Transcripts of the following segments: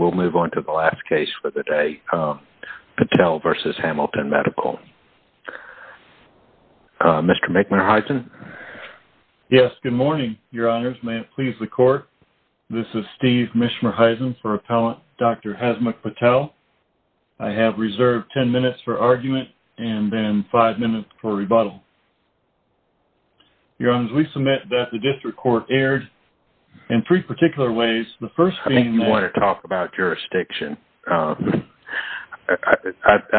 Patel v. Hamilton Medical Center, Inc. I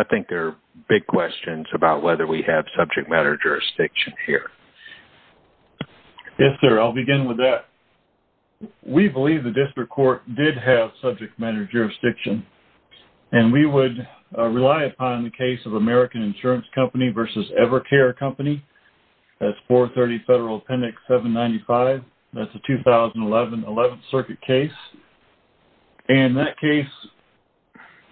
think there are big questions about whether we have subject matter jurisdiction here. Yes, sir. I'll begin with that. We believe the district court did have subject matter jurisdiction, and we would rely upon the case of American Insurance Company v. Evercare Company. That's 430 Federal Appendix 795. That's a 2011 11th Circuit case. In that case,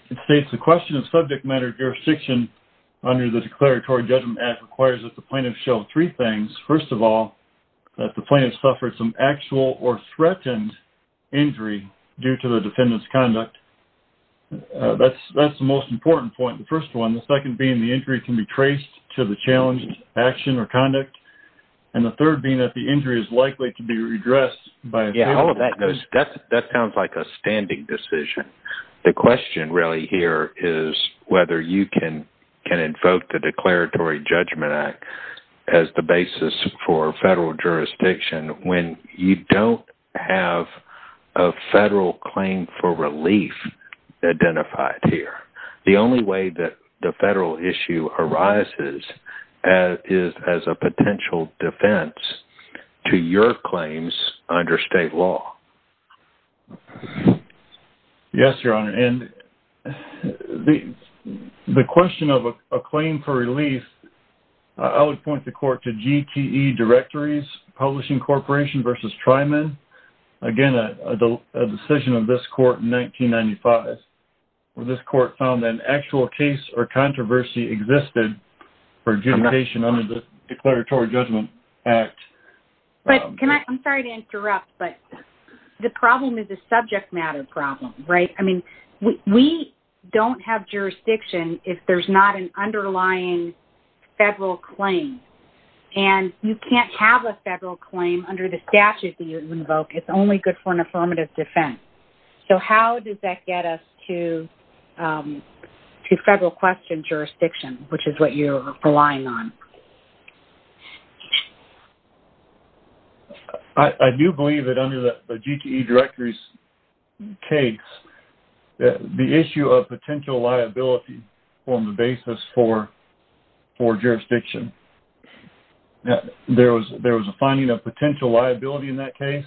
it states the question of subject matter jurisdiction under the Declaratory Judgment Act requires that the plaintiff show three things. First of all, that the plaintiff suffered some actual or threatened injury due to the defendant's conduct. That's the most important point, the first one. The second being the injury can be traced to the challenged action or conduct. And the third being that the injury is likely to be redressed by... That sounds like a standing decision. The question really here is whether you can invoke the Declaratory Judgment Act as the basis for federal jurisdiction when you don't have a federal claim for relief identified here. The only way that the federal issue arises is as a potential defense to your claims under state law. Yes, Your Honor, and the question of a claim for relief, I would point the court to GTE Directories Publishing Corporation v. Tryman. Again, a decision of this court in 1995. This court found that an actual case or controversy existed for adjudication under the Declaratory Judgment Act. I'm sorry to interrupt, but the problem is a subject matter problem, right? I mean, we don't have jurisdiction if there's not an underlying federal claim. And you can't have a federal claim under the statute that you invoke. It's only good for an affirmative defense. So how does that get us to federal question jurisdiction, which is what you're relying on? I do believe that under the GTE Directories case, the issue of potential liability formed the basis for jurisdiction. There was a finding of potential liability in that case.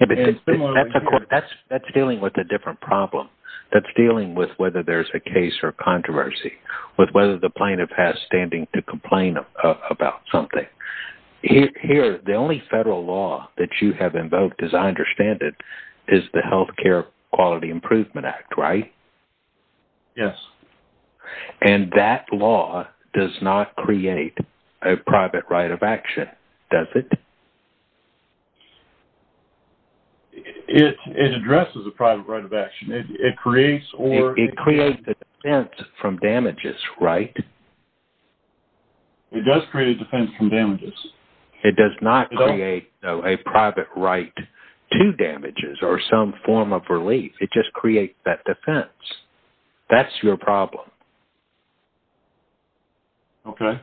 That's dealing with a different problem. That's dealing with whether there's a case or controversy, with whether the plaintiff has standing to complain about something. Here, the only federal law that you have invoked, as I understand it, is the Health Care Quality Improvement Act, right? Yes. And that law does not create a private right of action, does it? It addresses a private right of action. It creates or... It creates a defense from damages, right? It does create a defense from damages. It does not create a private right to damages or some form of relief. It just creates that defense. That's your problem. Okay.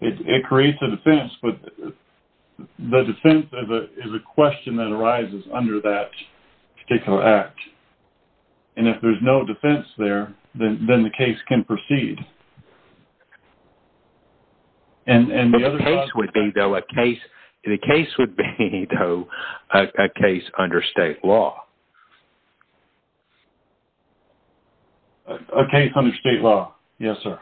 It creates a defense, but the defense is a question that arises under that particular act. And if there's no defense there, then the case can proceed. The case would be, though, a case under state law. A case under state law. Yes, sir.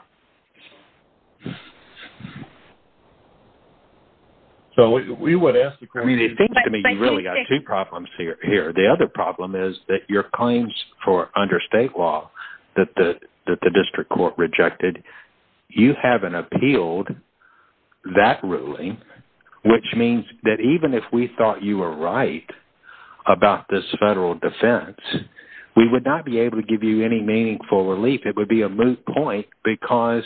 So we would ask the question... I mean, it seems to me you've really got two problems here. The other problem is that your claims for under state law that the district court rejected, you haven't appealed that ruling, which means that even if we thought you were right about this federal defense, we would not be able to give you any meaningful relief. It would be a moot point because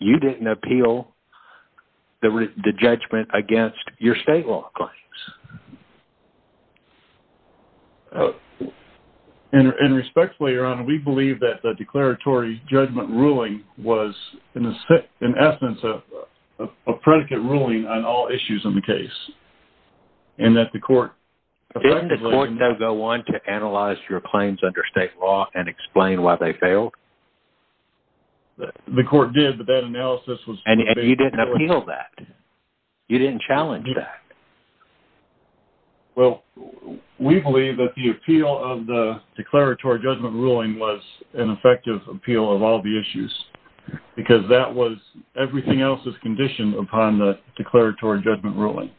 you didn't appeal the judgment against your state law claims. And respectfully, Your Honor, we believe that the declaratory judgment ruling was, in essence, a predicate ruling on all issues in the case and that the court... Did you want to analyze your claims under state law and explain why they failed? The court did, but that analysis was... And you didn't appeal that. You didn't challenge that. Well, we believe that the appeal of the declaratory judgment ruling was an effective appeal of all the issues because that was everything else's condition upon the declaratory judgment ruling.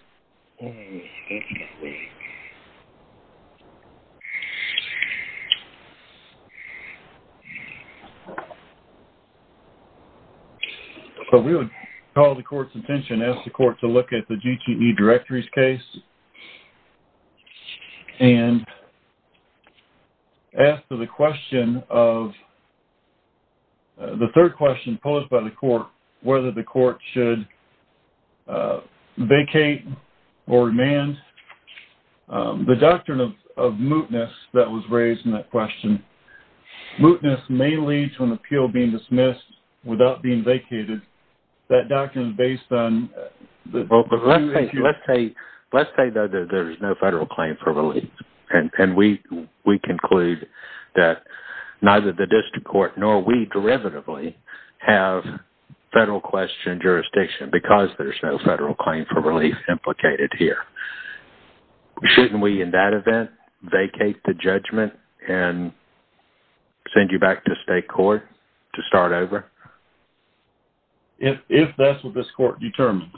So, we would call the court's attention, ask the court to look at the GTE directories case and ask for the question of... The third question posed by the court, whether the court should vacate or remand. The doctrine of mootness that was raised in that question, mootness may lead to an appeal being dismissed without being vacated. That doctrine is based on... Let's say that there's no federal claim for relief and we conclude that neither the district court nor we derivatively have federal question jurisdiction because there's no federal claim for relief implicated here. Shouldn't we, in that event, vacate the judgment and send you back to state court to start over? If that's what this court determines,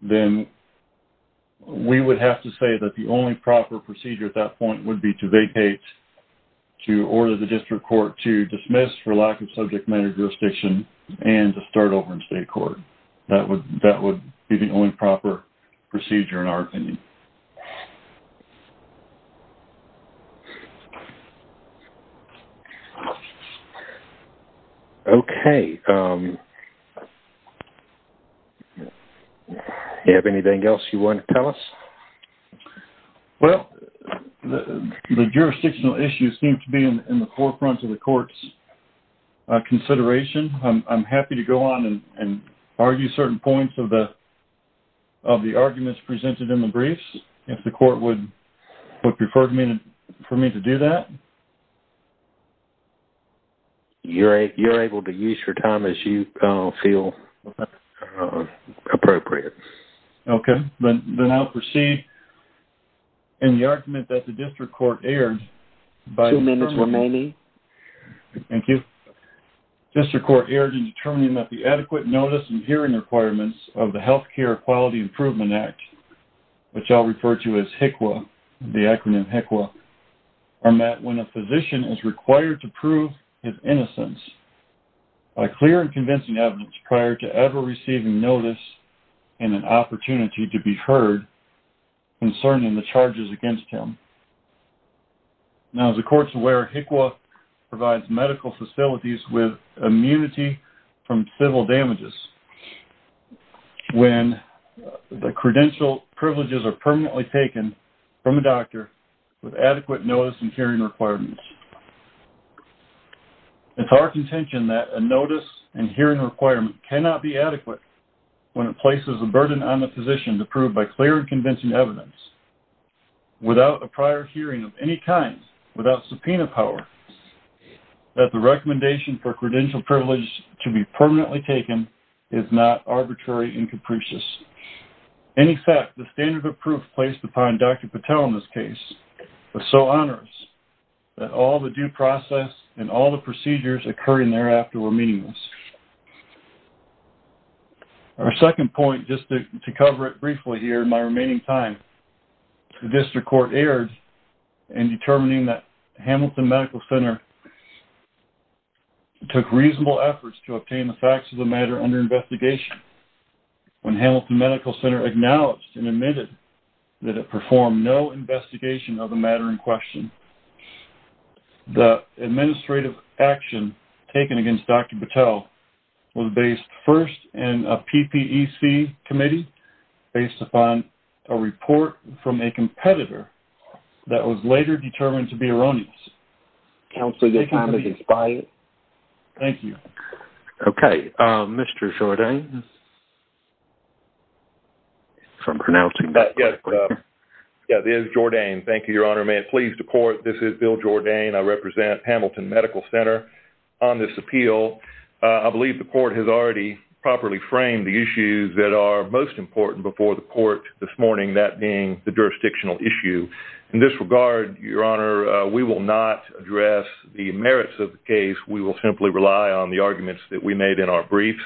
then we would have to say that the only proper procedure at that point would be to vacate, to order the district court to dismiss for lack of subject matter jurisdiction and to start over in state court. That would be the only proper procedure in our opinion. Okay. Do you have anything else you want to tell us? Well, the jurisdictional issues seem to be in the forefront of the court's consideration. I'm happy to go on and argue certain points of the arguments presented in the briefs if the court would prefer for me to do that. You're able to use your time as you feel appropriate. Okay. Then I'll proceed. In the argument that the district court aired... Two minutes remaining. Thank you. District court aired in determining that the adequate notice and hearing requirements of the Health Care Quality Improvement Act, which I'll refer to as HICWA, the acronym HICWA, are met when a physician is required to prove his innocence by clear and convincing evidence prior to ever receiving notice and an opportunity to be heard concerning the charges against him. Now, as the court's aware, HICWA provides medical facilities with immunity from civil damages when the credential privileges are permanently taken from a doctor with adequate notice and hearing requirements. It's our contention that a notice and hearing requirement cannot be adequate when it places a burden on the physician to prove by clear and convincing evidence without a prior hearing of any kind, without subpoena power, that the recommendation for credential privilege to be permanently taken is not arbitrary and capricious. In effect, the standard of proof placed upon Dr. Patel in this case was so onerous that all the due process and all the procedures occurring thereafter were meaningless. Our second point, just to cover it briefly here in my remaining time, the district court erred in determining that Hamilton Medical Center took reasonable efforts to obtain the facts of the matter under investigation when Hamilton Medical Center acknowledged and admitted that it performed no investigation of the matter in question. The administrative action taken against Dr. Patel was based first in a PPEC committee based upon a report from a competitor that was later determined to be erroneous. Counsel, your time has expired. Thank you. Okay. Mr. Jourdain. I'm pronouncing that correctly. Yeah, this is Jourdain. Thank you, Your Honor. May it please the court, this is Bill Jourdain. I represent Hamilton Medical Center on this appeal. I believe the court has already properly framed the issues that are most important before the court this morning, that being the jurisdictional issue. In this regard, Your Honor, we will not address the merits of the case. We will simply rely on the arguments that we made in our briefs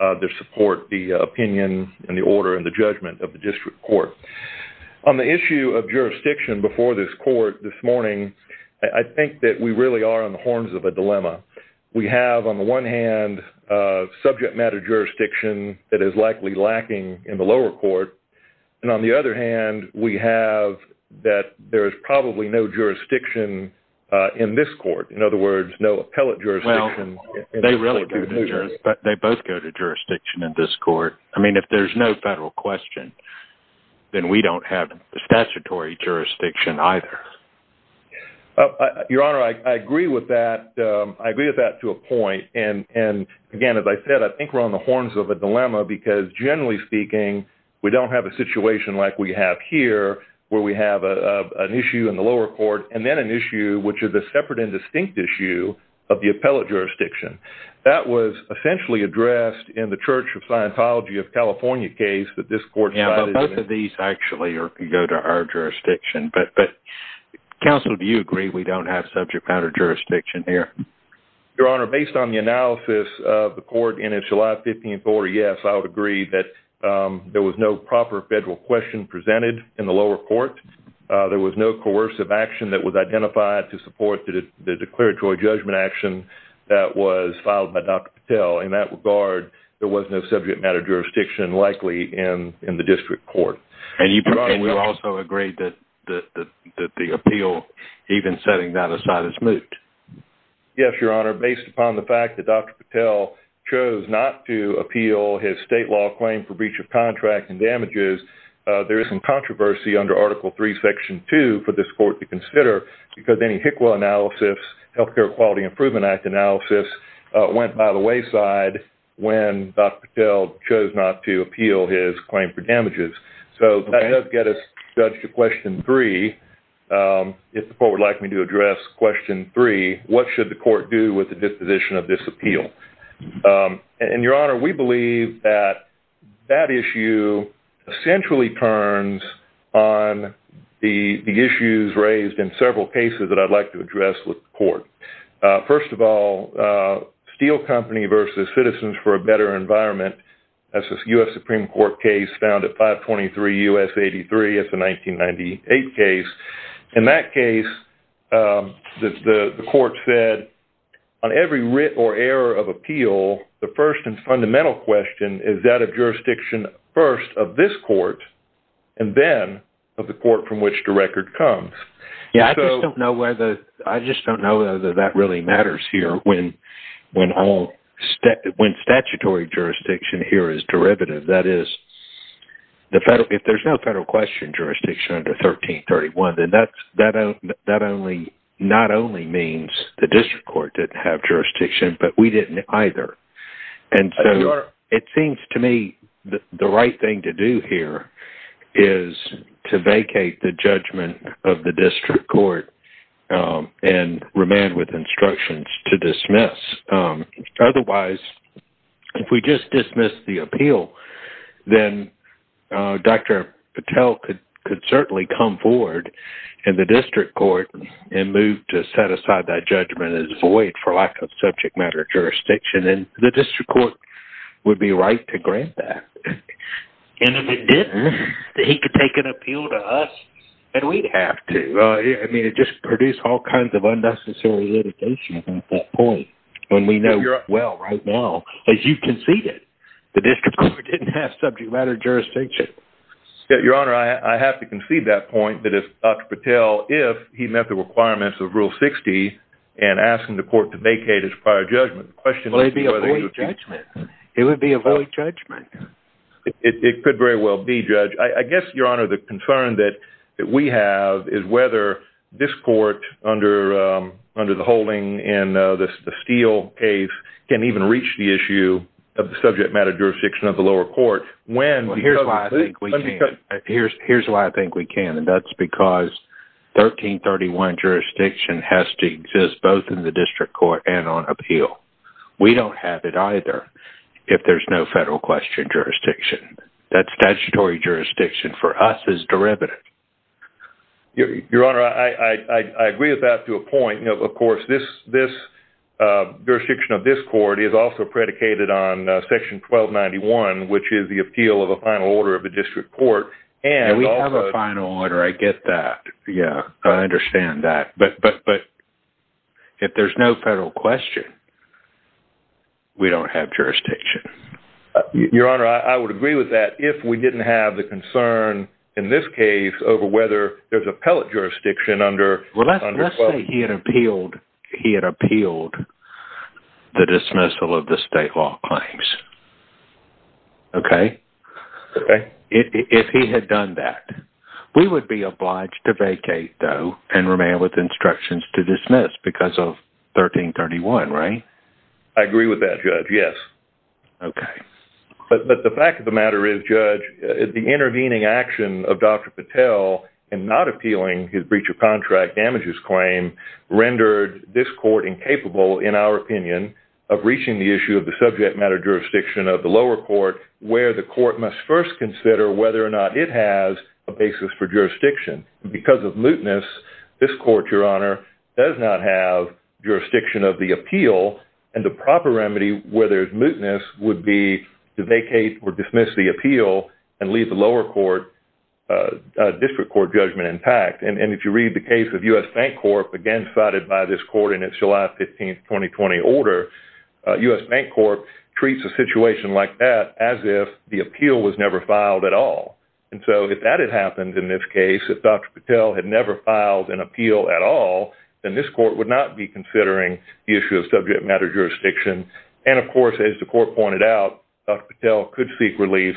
to support the opinion and the order and the judgment of the district court. On the issue of jurisdiction before this court this morning, I think that we really are on the horns of a dilemma. We have, on the one hand, subject matter jurisdiction that is likely lacking in the lower court. And on the other hand, we have that there is probably no jurisdiction in this court. In other words, no appellate jurisdiction. Well, they both go to jurisdiction in this court. I mean, if there's no federal question, then we don't have statutory jurisdiction either. Your Honor, I agree with that. I agree with that to a point. And, again, as I said, I think we're on the horns of a dilemma because, generally speaking, we don't have a situation like we have here where we have an issue in the lower court and then an issue, which is a separate and distinct issue, of the appellate jurisdiction. That was essentially addressed in the Church of Scientology of California case that this court cited. Yeah, but both of these actually go to our jurisdiction. But, counsel, do you agree we don't have subject matter jurisdiction here? Your Honor, based on the analysis of the court in its July 15th order, yes, I would agree that there was no proper federal question presented in the lower court. There was no coercive action that was identified to support the declaratory judgment action that was filed by Dr. Patel. In that regard, there was no subject matter jurisdiction likely in the district court. And you probably also agree that the appeal, even setting that aside, is moot. Yes, Your Honor, based upon the fact that Dr. Patel chose not to appeal his state law claim for breach of contract and damages, there is some controversy under Article III, Section 2, for this court to consider because any HCQA analysis, Health Care Quality Improvement Act analysis, went by the wayside when Dr. Patel chose not to appeal his claim for damages. So that does get us to question 3. If the court would like me to address question 3, what does the court do with the disposition of this appeal? And Your Honor, we believe that that issue essentially turns on the issues raised in several cases that I'd like to address with the court. First of all, Steel Company v. Citizens for a Better Environment, that's a U.S. Supreme Court case found at 523 U.S. 83. That's a 1998 case. In that case, the court said, on every writ or error of appeal, the first and fundamental question is that of jurisdiction first of this court and then of the court from which the record comes. I just don't know whether that really matters here when statutory jurisdiction here is derivative. That is, if there's no federal question jurisdiction under 1331, then that not only means the district court didn't have jurisdiction, but we didn't either. And so it seems to me the right thing to do here is to vacate the judgment of the district court and remand with instructions to dismiss. Otherwise, if we just dismiss the appeal, then Dr. Patel could certainly come forward in the district court and move to set aside that judgment as void for lack of subject matter jurisdiction, and the district court would be right to grant that. And if it didn't, he could take an appeal to us, and we'd have to. I mean, it just produced all kinds of unnecessary litigation at that point when we know well right now, as you conceded, the district court didn't have subject matter jurisdiction. Your Honor, I have to concede that point, that if Dr. Patel, if he met the requirements of Rule 60 and asked him to court to vacate his prior judgment, the question is whether he would be... It would be a void judgment. It could very well be, Judge. I guess, Your Honor, the concern that we have is whether this court under the holding in the Steele case can even reach the issue of the subject matter jurisdiction of the lower court when... Here's why I think we can, and that's because 1331 jurisdiction has to exist both in the district court and on appeal. We don't have it either if there's no federal question jurisdiction. That statutory jurisdiction for us is derivative. Your Honor, I agree with that to a point. Of course, this jurisdiction of this court is also predicated on Section 1291, which is a great deal of a final order of the district court. We have a final order. I get that. Yeah, I understand that. But if there's no federal question, we don't have jurisdiction. Your Honor, I would agree with that if we didn't have the concern, in this case, over whether there's appellate jurisdiction under... Let's say he had appealed the dismissal of the state law claims. Okay. If he had done that, we would be obliged to vacate, though, and remain with instructions to dismiss because of 1331, right? I agree with that, Judge. Yes. Okay. But the fact of the matter is, Judge, the intervening action of Dr. Patel in not appealing his breach of contract damages claim rendered this court incapable, in our opinion, of reaching the issue of the subject matter jurisdiction of the lower court, where the court must first consider whether or not it has a basis for jurisdiction. Because of mootness, this court, Your Honor, does not have jurisdiction of the appeal, and the proper remedy, where there's mootness, would be to vacate or dismiss the appeal and leave the lower court, district court judgment intact. And if you read the case of U.S. Bank Corp., again cited by this court in its July 15, 2020, order, U.S. Bank Corp. treats a situation like that as if the appeal was never filed at all. And so, if that had happened in this case, if Dr. Patel had never filed an appeal at all, then this court would not be considering the issue of subject matter jurisdiction. And, of course, as the court pointed out, Dr. Patel could seek relief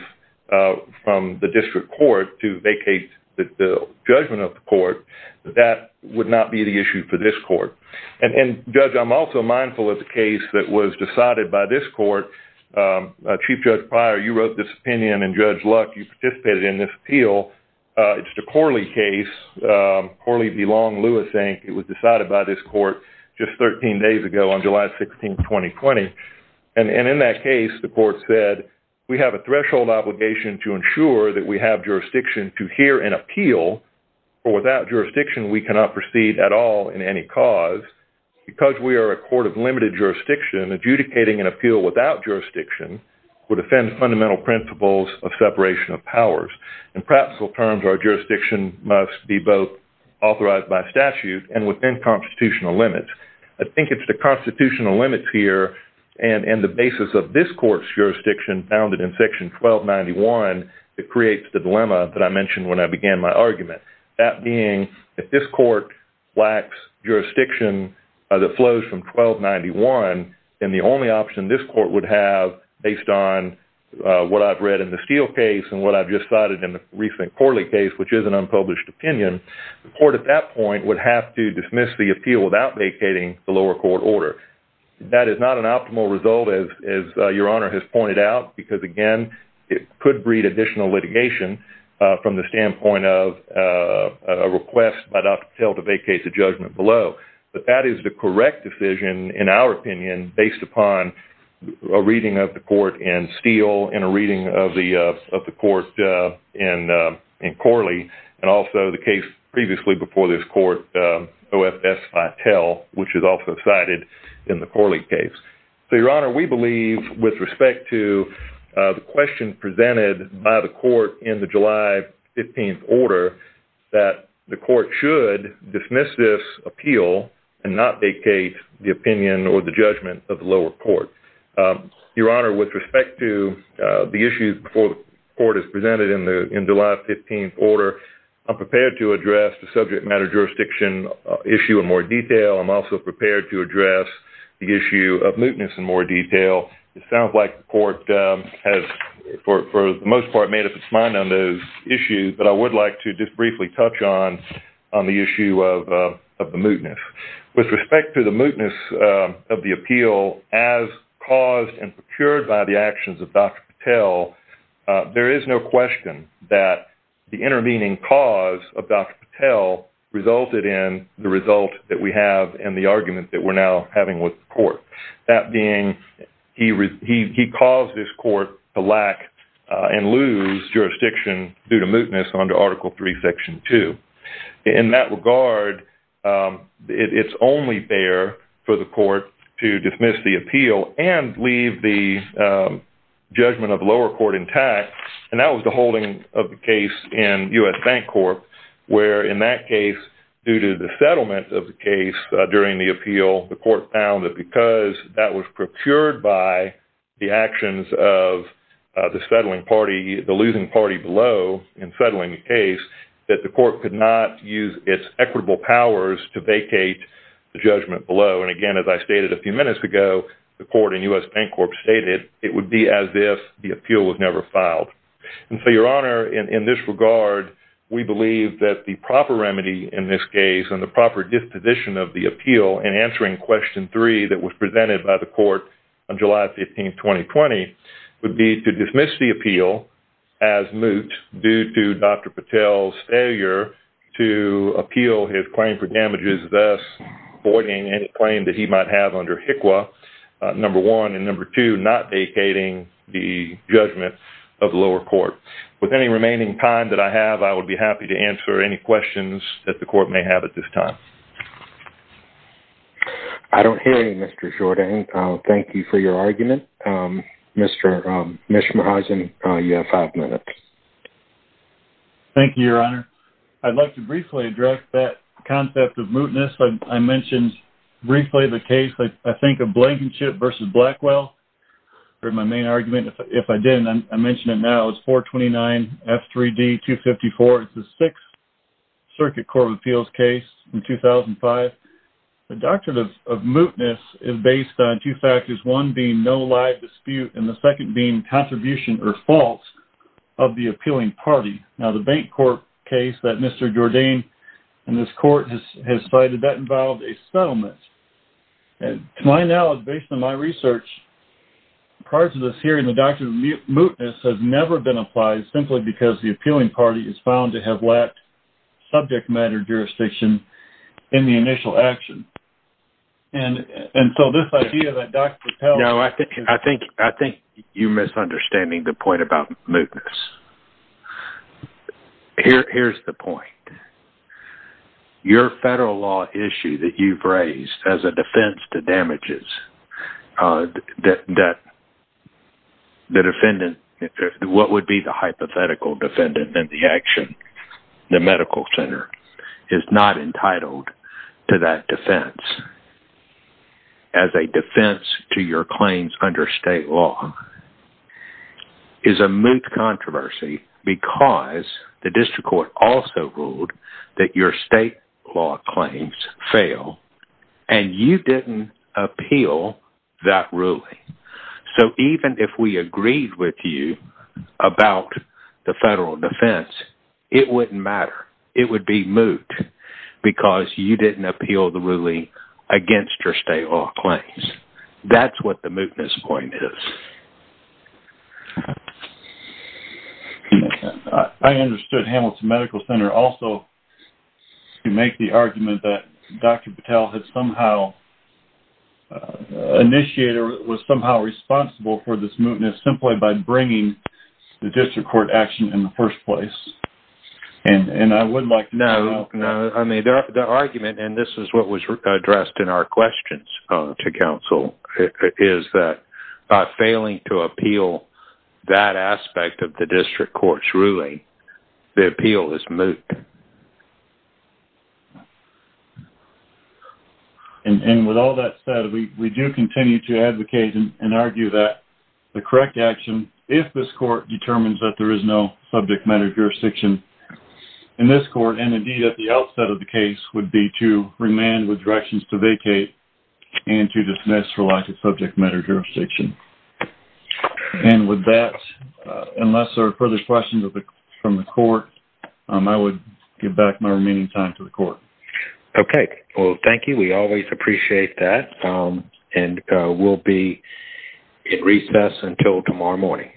from the district court to vacate the judgment of the court. That would not be the issue for this court. And, Judge, I'm also mindful of the case that was decided by this court. Chief Judge Pryor, you wrote this opinion, and, Judge Luck, you participated in this appeal. It's the Corley case, Corley v. Long, Lewis, Inc. It was decided by this court just 13 days ago on July 16, 2020. And in that case, the court said, we have a threshold obligation to ensure that we have jurisdiction to hear an appeal, or without jurisdiction, we cannot proceed at all in any cause. Because we are a court of limited jurisdiction, adjudicating an appeal without jurisdiction would offend fundamental principles of separation of powers. In practical terms, our jurisdiction must be both authorized by statute and within constitutional limits. I think it's the constitutional limits here and the basis of this court's jurisdiction founded in Section 1291 that creates the dilemma that I mentioned when I began my argument. That being, if this court lacks jurisdiction that flows from 1291, then the only option this court would have, based on what I've read in the Steele case and what I've just cited in the recent Corley case, which is an unpublished opinion, the court, at that point, would have to dismiss the appeal without vacating the lower court order. That is not an optimal result, as Your Honor has pointed out, because, again, it could breed additional litigation from the standpoint of a request by Dr. Patel to vacate the judgment below. But that is the correct decision, in our opinion, based upon a reading of the court in Steele and a reading of the court in Corley and also the case previously before this court, OFS Patel, which is also cited in the Corley case. with respect to the question presented by the court in the July 15th order, that the court should dismiss this appeal and not vacate the opinion or the judgment of the lower court. Your Honor, with respect to the issues before the court is presented in the July 15th order, I'm prepared to address the subject matter jurisdiction issue in more detail. I'm also prepared to address the issue of mootness in more detail. It sounds like the court has, for the most part, a plan on those issues, but I would like to just briefly touch on the issue of the mootness. With respect to the mootness of the appeal as caused and procured by the actions of Dr. Patel, there is no question that the intervening cause of Dr. Patel resulted in the result that we have and the argument that we're now having with the court. That being, he caused this court to lack and lose jurisdiction due to mootness under Article 3, Section 2. In that regard, it's only fair for the court to dismiss the appeal and leave the judgment of the lower court intact, and that was the holding of the case in U.S. Bank Corp, where in that case, due to the settlement of the case during the appeal, the court found that because that was procured by the actions of the settling party, the losing party below in settling the case, that the court could not use its equitable powers to vacate the judgment below. Again, as I stated a few minutes ago, the court in U.S. Bank Corp stated it would be as if the appeal was never filed. Your Honor, in this regard, we believe that the proper remedy in this case and the proper disposition of the appeal in answering Question 3 that was presented by the court on July 15, 2020, would be to dismiss the appeal as moot due to Dr. Patel's failure to appeal his claim for damages, thus avoiding any claim that he might have under HCQA, number one, and number two, not vacating the judgment of the lower court. With any remaining time that I have, I would be happy to answer any questions that the court may have at this time. I don't hear any, Mr. Jourdan. Thank you for your argument. Mr. Mishmahajian, you have five minutes. Thank you, Your Honor. I'd like to briefly address that concept of mootness. I mentioned briefly the case, I think, of Blankenship v. Blackwell. That was my main argument. If I didn't, I mention it now. It's 429F3D254. It's the Sixth Circuit Court of Appeals case in 2005. The doctrine of mootness is based on two factors, one being no live dispute and the second being contribution or false of the appealing party. Now, the bank court case that Mr. Jourdan and this court has cited, that involved a settlement. To my knowledge, based on my research, prior to this hearing, the doctrine of mootness has never been applied simply because the appealing party is found to have lacked subject matter jurisdiction in the initial action. And so this idea that Dr. Pell... No, I think you're misunderstanding the point about mootness. Here's the point. Your federal law issue that you've raised as a defense to damages, the defendant, what would be the hypothetical defendant in the action, the district court center, is not entitled to that defense. As a defense to your claims under state law is a moot controversy because the district court also ruled that your state law claims fail and you didn't appeal that ruling. So even if we agreed with you about the federal defense, it wouldn't matter. It would be moot because you didn't appeal the ruling against your state law claims. That's what the mootness point is. I understood Hamilton Medical Center also to make the argument that Dr. Pell had somehow initiated or was somehow responsible for this mootness simply by bringing the district court action in the first place. I would like to know... The argument, and this is what was addressed in our questions to counsel, is that by failing to appeal that aspect of the district court's ruling, the appeal is moot. With all that said, we do continue to advocate and argue that the correct action if this court determines that there is no subject matter jurisdiction in this court and indeed at the outset of the case would be to remand with directions to vacate and to dismiss for lack of subject matter jurisdiction. And with that, unless there are further questions from the court, I would give back my remaining time to the court. Okay. Well, thank you. We always appreciate that and we'll be in recess until tomorrow morning.